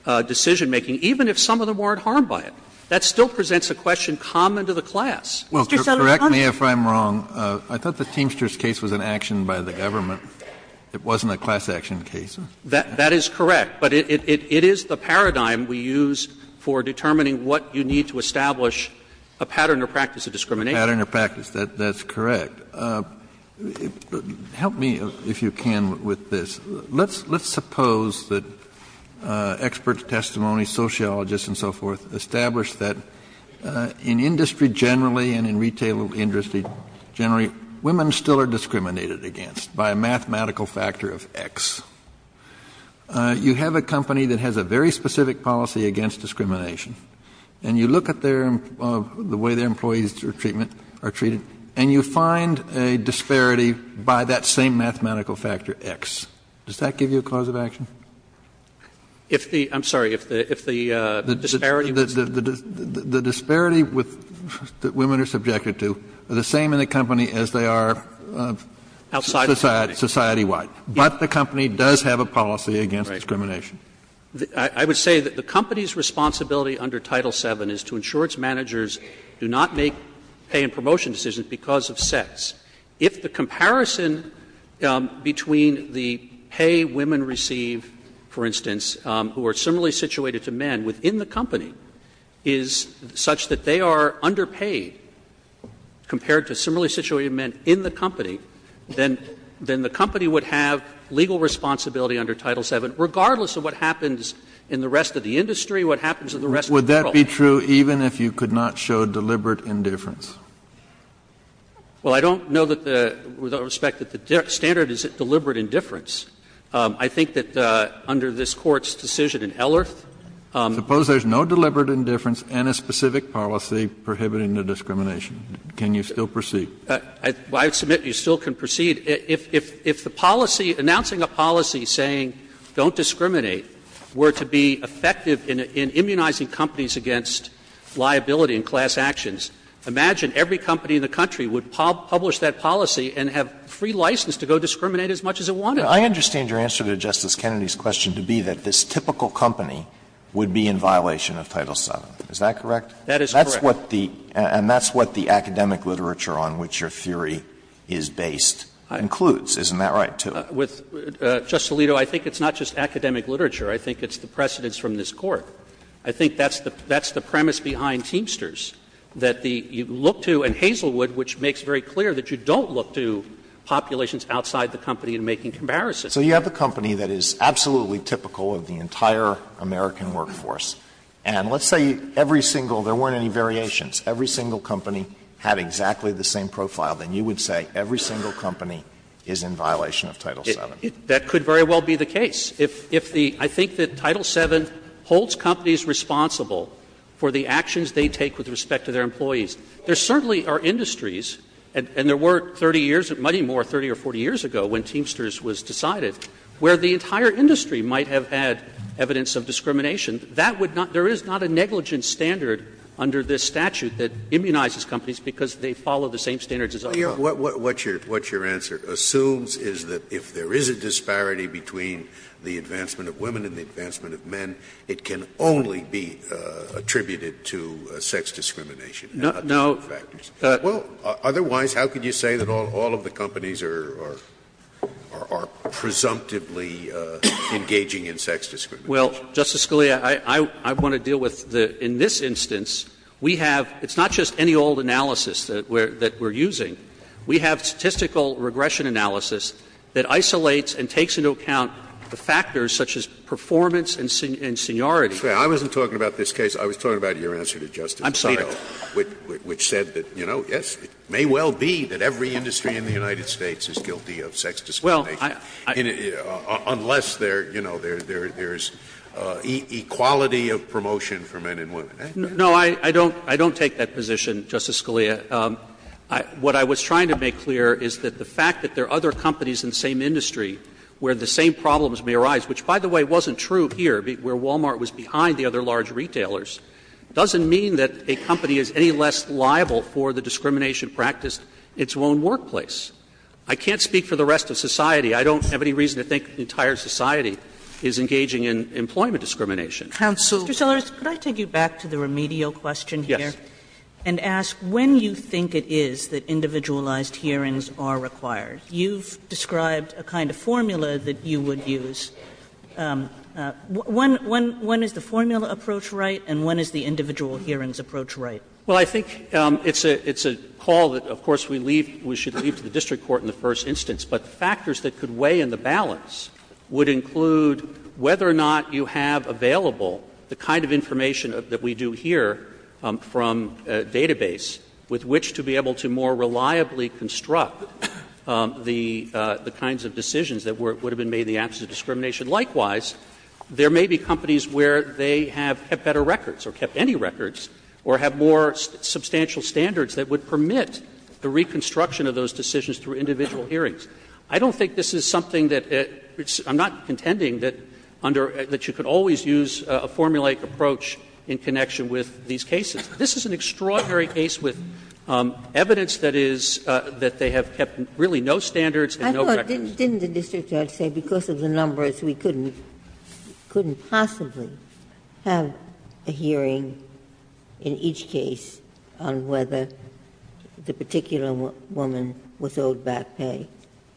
decision-making, even if some of them weren't harmed by it. That still presents a question common to the class. Mr. Sotomayor, if I'm wrong, I thought the Teamsters case was an action by the government. It wasn't a class action case. That is correct, but it is the paradigm we use for determining what you need to establish a pattern or practice of discrimination. A pattern or practice, that's correct. But help me, if you can, with this. Let's suppose that experts, testimonies, sociologists and so forth establish that in industry generally and in retail industry generally, women still are discriminated against by a mathematical factor of X. You have a company that has a very specific policy against discrimination. And you look at their employees, the way their employees are treated, and you find a disparity by that same mathematical factor X. Does that give you a cause of action? If the — I'm sorry, if the disparity was— The disparity that women are subjected to are the same in the company as they are society-wide. But the company does have a policy against discrimination. I would say that the company's responsibility under Title VII is to ensure its managers do not make pay and promotion decisions because of sex. If the comparison between the pay women receive, for instance, who are similarly situated to men within the company, is such that they are underpaid compared to similarly situated men in the company, then the company would have legal responsibility under Title VII, regardless of what happens in the rest of the industry, what happens in the rest of the world. Would that be true even if you could not show deliberate indifference? Well, I don't know that the — with all respect, that the standard is deliberate indifference. I think that under this Court's decision in Ellerth— Suppose there's no deliberate indifference and a specific policy prohibiting the discrimination. Can you still proceed? I would submit you still can proceed. If the policy — announcing a policy saying don't discriminate were to be effective in immunizing companies against liability in class actions, imagine every company in the country would publish that policy and have free license to go discriminate as much as it wanted. I understand your answer to Justice Kennedy's question to be that this typical company would be in violation of Title VII. Is that correct? That is correct. That's what the — and that's what the academic literature on which your theory is based includes, isn't that right, too? With — Justice Alito, I think it's not just academic literature. I think it's the precedence from this Court. I think that's the premise behind Teamsters, that the — you look to — and Hazelwood, which makes very clear that you don't look to populations outside the company in making comparisons. So you have a company that is absolutely typical of the entire American workforce. And let's say every single — there weren't any variations. Every single company had exactly the same profile, then you would say every single That could very well be the case. If the — I think that Title VII holds companies responsible for the actions they take with respect to their employees. There certainly are industries, and there were 30 years, many more, 30 or 40 years ago when Teamsters was decided, where the entire industry might have had evidence of discrimination. That would not — there is not a negligent standard under this statute that immunizes companies because they follow the same standards as other companies. Scalia, what your answer assumes is that if there is a disparity between the advancement of women and the advancement of men, it can only be attributed to sex discrimination and other factors. Well, otherwise, how could you say that all of the companies are presumptively engaging in sex discrimination? Well, Justice Scalia, I want to deal with the — in this instance, we have — it's We have statistical regression analysis that isolates and takes into account the factors such as performance and seniority. I wasn't talking about this case. I was talking about your answer to Justice Alito. I'm sorry. Which said that, you know, yes, it may well be that every industry in the United States is guilty of sex discrimination. Well, I — Unless there, you know, there is equality of promotion for men and women. No, I don't take that position, Justice Scalia. What I was trying to make clear is that the fact that there are other companies in the same industry where the same problems may arise, which, by the way, wasn't true here where Walmart was behind the other large retailers, doesn't mean that a company is any less liable for the discrimination practiced in its own workplace. I can't speak for the rest of society. I don't have any reason to think the entire society is engaging in employment discrimination. Counsel — Yes. And ask when you think it is that individualized hearings are required. You've described a kind of formula that you would use. When is the formula approach right, and when is the individual hearings approach right? Well, I think it's a call that, of course, we leave — we should leave to the district court in the first instance. But factors that could weigh in the balance would include whether or not you have available the kind of information that we do here from database with which to be able to more reliably construct the kinds of decisions that would have been made in the absence of discrimination. Likewise, there may be companies where they have better records or kept any records or have more substantial standards that would permit the reconstruction of those decisions through individual hearings. I don't think this is something that — I'm not contending that under — that you could always use a formulaic approach in connection with these cases. This is an extraordinary case with evidence that is — that they have kept really no standards and no records. I thought, didn't the district judge say because of the numbers we couldn't — couldn't possibly have a hearing in each case on whether the particular woman was owed back pay?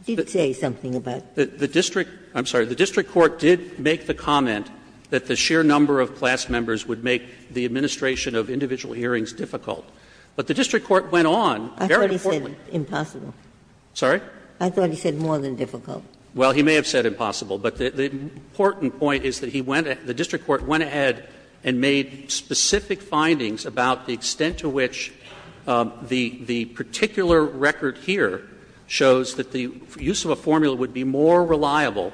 Didn't say something about that. The district — I'm sorry, the district court did make the comment that the sheer number of class members would make the administration of individual hearings difficult. But the district court went on, very importantly — Ginsburg I thought he said impossible. Waxman Sorry? Ginsburg I thought he said more than difficult. Waxman Well, he may have said impossible, but the important point is that he went — the district court went ahead and made specific findings about the extent to which the particular record here shows that the use of a formula would be more reliable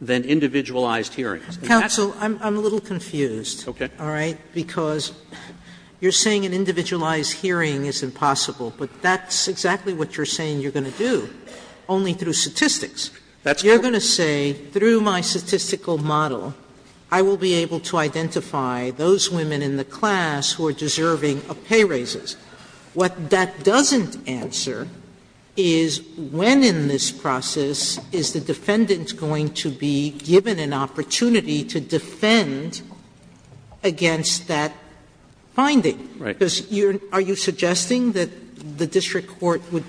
than individualized hearings. Sotomayor Counsel, I'm a little confused. Waxman Okay. Sotomayor All right? Because you're saying an individualized hearing is impossible, but that's exactly what you're saying you're going to do, only through statistics. You're going to say, through my statistical model, I will be able to identify those women in the class who are deserving of pay raises. What that doesn't answer is, when in this process is the defendant going to be given an opportunity to defend against that finding? Right. Sotomayor Because you're — are you suggesting that the district court would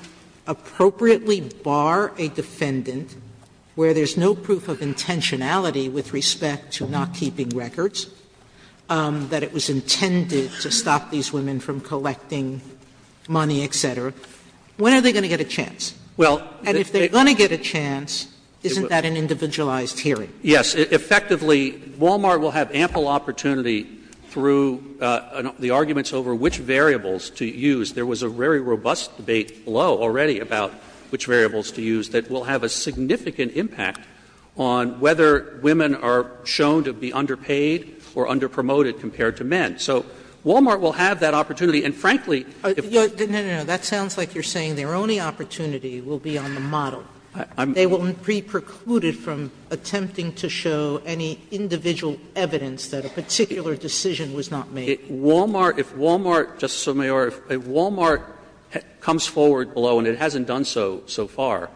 appropriately bar a defendant where there's no proof of intentionality with respect to not keeping records, that it was intended to stop these women from collecting money, et cetera? When are they going to get a chance? And if they're going to get a chance, isn't that an individualized hearing? Waxman Yes. Effectively, Wal-Mart will have ample opportunity through the arguments over which variables to use. There was a very robust debate below already about which variables to use that will have a significant impact on whether women are shown to be underpaid or underpromoted compared to men. So Wal-Mart will have that opportunity. And frankly, if — Sotomayor No, no, no. That sounds like you're saying their only opportunity will be on the model. They won't be precluded from attempting to show any individual evidence that a particular decision was not made. Waxman Wal-Mart — if Wal-Mart, Justice Sotomayor, if Wal-Mart comes forward below and it hasn't done so so far,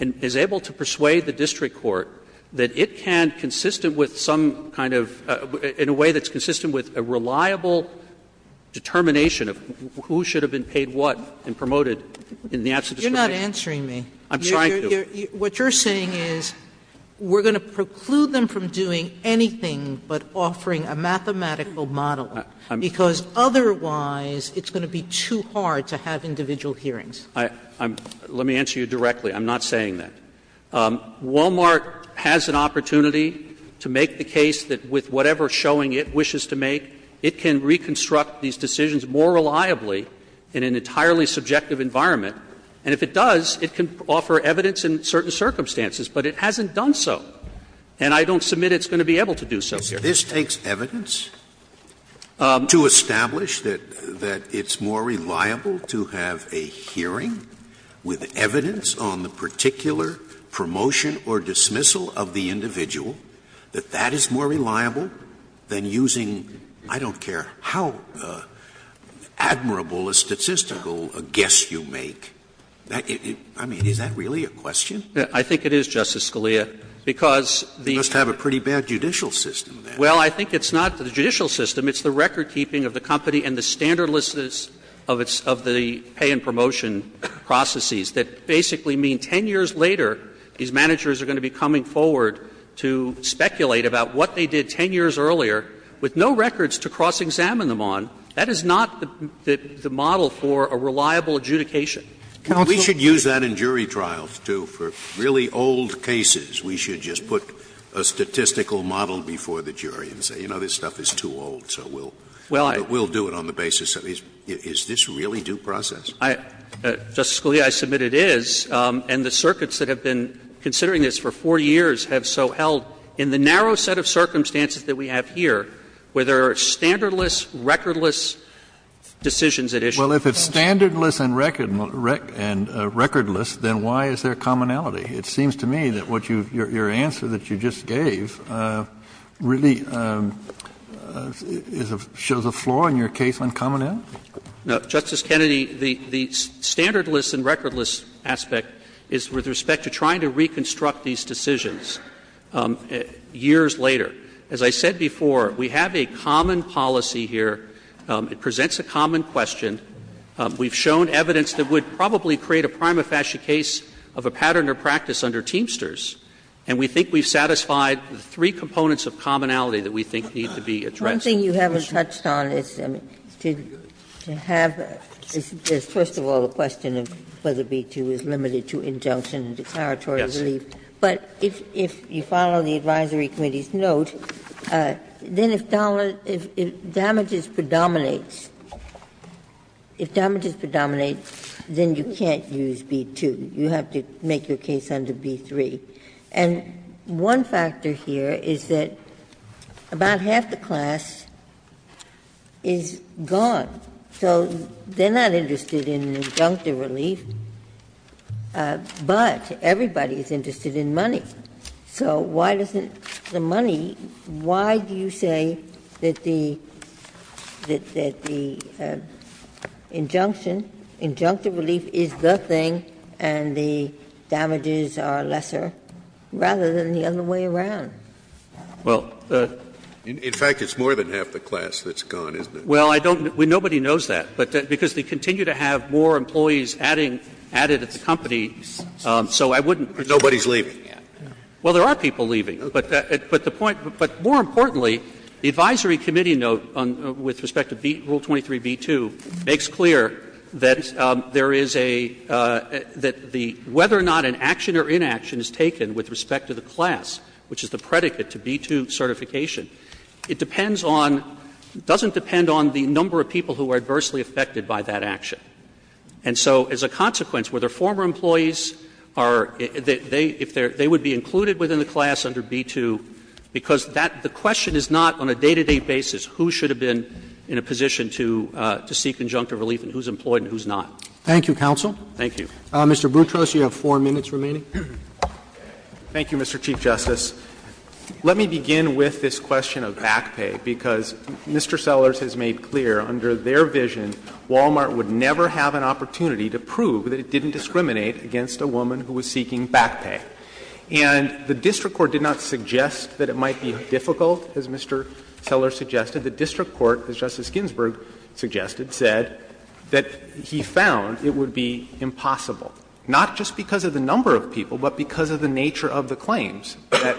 is able to persuade the district court that it can, consistent with some kind of — in a way that's consistent with a reliable determination of who should have been paid what and promoted in the absence of discrimination. Sotomayor You're not answering me. Waxman I'm trying to. Sotomayor What you're saying is we're going to preclude them from doing anything but offering a mathematical model, because otherwise it's going to be too hard to have individual hearings. Waxman I'm — let me answer you directly. I'm not saying that. Wal-Mart has an opportunity to make the case that with whatever showing it wishes to make, it can reconstruct these decisions more reliably in an entirely subjective environment. And if it does, it can offer evidence in certain circumstances, but it hasn't done so. And I don't submit it's going to be able to do so here. Scalia This takes evidence to establish that it's more reliable to have a hearing with evidence on the particular promotion or dismissal of the individual, that that is more reliable than using, I don't care how admirable a statistical guess you make. I mean, is that really a question? Waxman I think it is, Justice Scalia, because the — Scalia Well, I think it's not the judicial system. It's the recordkeeping of the company and the standardlessness of its — of the pay and promotion processes that basically mean 10 years later, these managers are going to be coming forward to speculate about what they did 10 years earlier with no records to cross-examine them on. That is not the model for a reliable adjudication. Roberts We should use that in jury trials, too, for really old cases. We should just put a statistical model before the jury and say, you know, this stuff is too old, so we'll do it on the basis of — is this really due process? Waxman I — Justice Scalia, I submit it is. And the circuits that have been considering this for 4 years have so held, in the narrow set of circumstances that we have here, where there are standardless, recordless decisions at issue. Kennedy Well, if it's standardless and recordless, then why is there commonality? It seems to me that what you — your answer that you just gave really is a — shows a flaw in your case on commonality. Waxman No. Justice Kennedy, the — the standardless and recordless aspect is with respect to trying to reconstruct these decisions years later. As I said before, we have a common policy here. It presents a common question. We've shown evidence that would probably create a prima facie case of a pattern of practice under Teamsters. And we think we've satisfied the three components of commonality that we think need to be addressed. Ginsburg One thing you haven't touched on is to have — first of all, the question of whether B-2 is limited to injunction and declaratory relief. But if you follow the advisory committee's note, then if damages predominates — if damages predominate, then you can't use B-2. You have to make your case under B-3. And one factor here is that about half the class is gone. So they're not interested in injunctive relief, but everybody is interested in money. So why doesn't the money — why do you say that the — that the injunction — injunctive relief is the thing and the damages are lesser, rather than the other way around? Well, the — In fact, it's more than half the class that's gone, isn't it? Well, I don't — nobody knows that, but because they continue to have more employees adding — added at the company, so I wouldn't presume that's the case. So the question is, why is everybody leaving? Well, there are people leaving. But the point — but more importantly, the advisory committee note on — with respect to Rule 23b-2 makes clear that there is a — that the — whether or not an action or inaction is taken with respect to the class, which is the predicate to B-2 certification, it depends on — doesn't depend on the number of people who are adversely affected by that action. And so, as a consequence, whether former employees are — if they're — they would be included within the class under B-2, because that — the question is not, on a day-to-day basis, who should have been in a position to seek injunctive relief and who's employed and who's not. Thank you, counsel. Thank you. Mr. Boutros, you have 4 minutes remaining. Thank you, Mr. Chief Justice. Let me begin with this question of back pay, because Mr. Sellers has made clear, under their vision, Wal-Mart would never have an opportunity to prove that it didn't discriminate against a woman who was seeking back pay. And the district court did not suggest that it might be difficult, as Mr. Sellers suggested. The district court, as Justice Ginsburg suggested, said that he found it would be impossible, not just because of the number of people, but because of the nature of the claims, that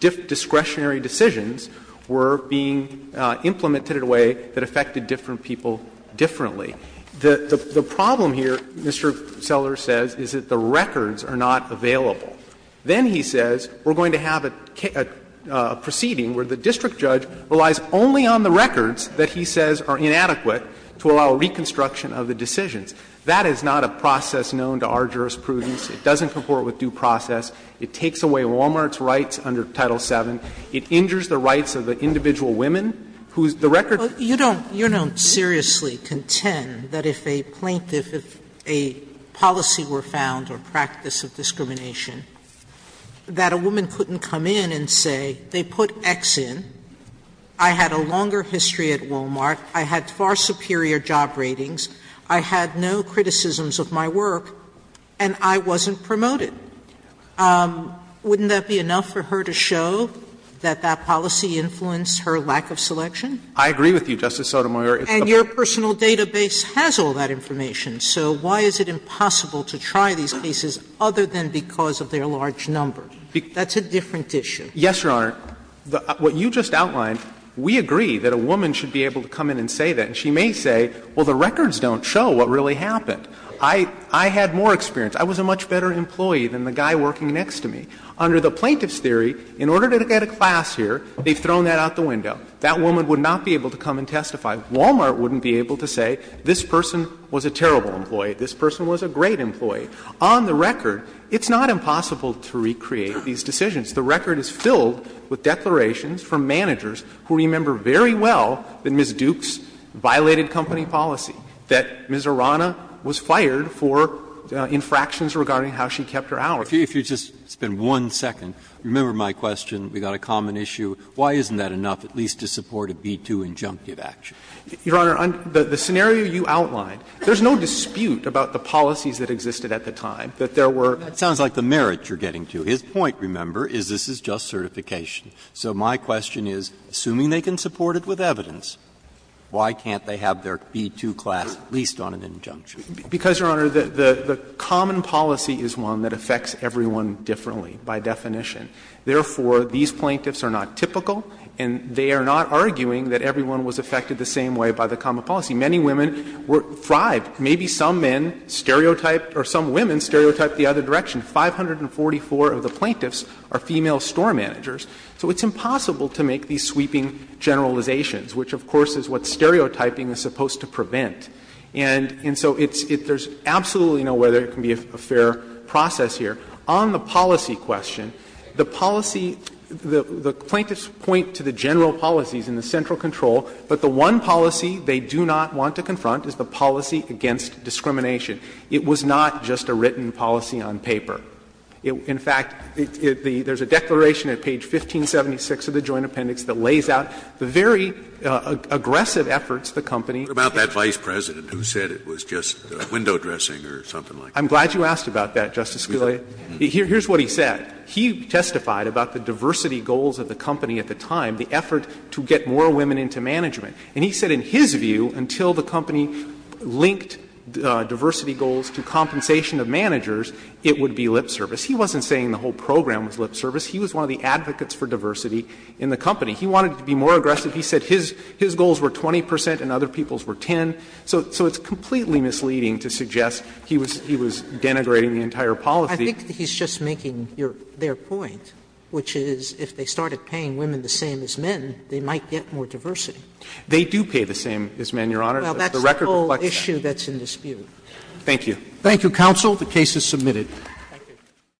discretionary decisions were being implemented in a way that affected different people differently. The problem here, Mr. Sellers says, is that the records are not available. Then he says, we're going to have a proceeding where the district judge relies only on the records that he says are inadequate to allow reconstruction of the decisions. That is not a process known to our jurisprudence. It doesn't comport with due process. It takes away Wal-Mart's rights under Title VII. It injures the rights of the individual women whose the record doesn't. Sotomayor, you don't seriously contend that if a plaintiff, if a policy were found or practice of discrimination, that a woman couldn't come in and say, they put X in, I had a longer history at Wal-Mart, I had far superior job ratings, I had no criticisms of my work, and I wasn't promoted. Wouldn't that be enough for her to show that that policy influenced her lack of selection? I agree with you, Justice Sotomayor. And your personal database has all that information. So why is it impossible to try these cases other than because of their large number? That's a different issue. Yes, Your Honor. What you just outlined, we agree that a woman should be able to come in and say that. And she may say, well, the records don't show what really happened. I had more experience. I was a much better employee than the guy working next to me. Under the plaintiff's theory, in order to get a class here, they've thrown that out the window. That woman would not be able to come and testify. Wal-Mart wouldn't be able to say, this person was a terrible employee, this person was a great employee. On the record, it's not impossible to recreate these decisions. The record is filled with declarations from managers who remember very well that Ms. Dukes violated company policy, that Ms. Arana was fired for infractions regarding how she kept her hours. If you just spend one second, remember my question, we've got a common issue. Why isn't that enough at least to support a B-2 injunctive action? Your Honor, the scenario you outlined, there's no dispute about the policies that existed at the time, that there were. That sounds like the merit you're getting to. His point, remember, is this is just certification. So my question is, assuming they can support it with evidence, why can't they have their B-2 class at least on an injunctive? Because, Your Honor, the common policy is one that affects everyone differently by definition. Therefore, these plaintiffs are not typical, and they are not arguing that everyone was affected the same way by the common policy. Many women were fribed. Maybe some men stereotyped or some women stereotyped the other direction. 544 of the plaintiffs are female store managers. So it's impossible to make these sweeping generalizations, which of course is what stereotyping is supposed to prevent. And so it's – there's absolutely no way there can be a fair process here. On the policy question, the policy – the plaintiffs point to the general policies in the central control, but the one policy they do not want to confront is the policy against discrimination. It was not just a written policy on paper. In fact, there's a declaration at page 1576 of the Joint Appendix that lays out the very aggressive efforts the company had taken. Scalia, what about that Vice President who said it was just window dressing or something like that? I'm glad you asked about that, Justice Scalia. Here's what he said. He testified about the diversity goals of the company at the time, the effort to get more women into management. And he said in his view, until the company linked diversity goals to compensation of managers, it would be lip service. He wasn't saying the whole program was lip service. He was one of the advocates for diversity in the company. He wanted it to be more aggressive. He said his goals were 20 percent and other people's were 10. So it's completely misleading to suggest he was denigrating the entire policy. Sotomayor, I think he's just making their point, which is if they started paying women the same as men, they might get more diversity. They do pay the same as men, Your Honor. Well, that's the whole issue that's in dispute. Thank you. Thank you, counsel. The case is submitted.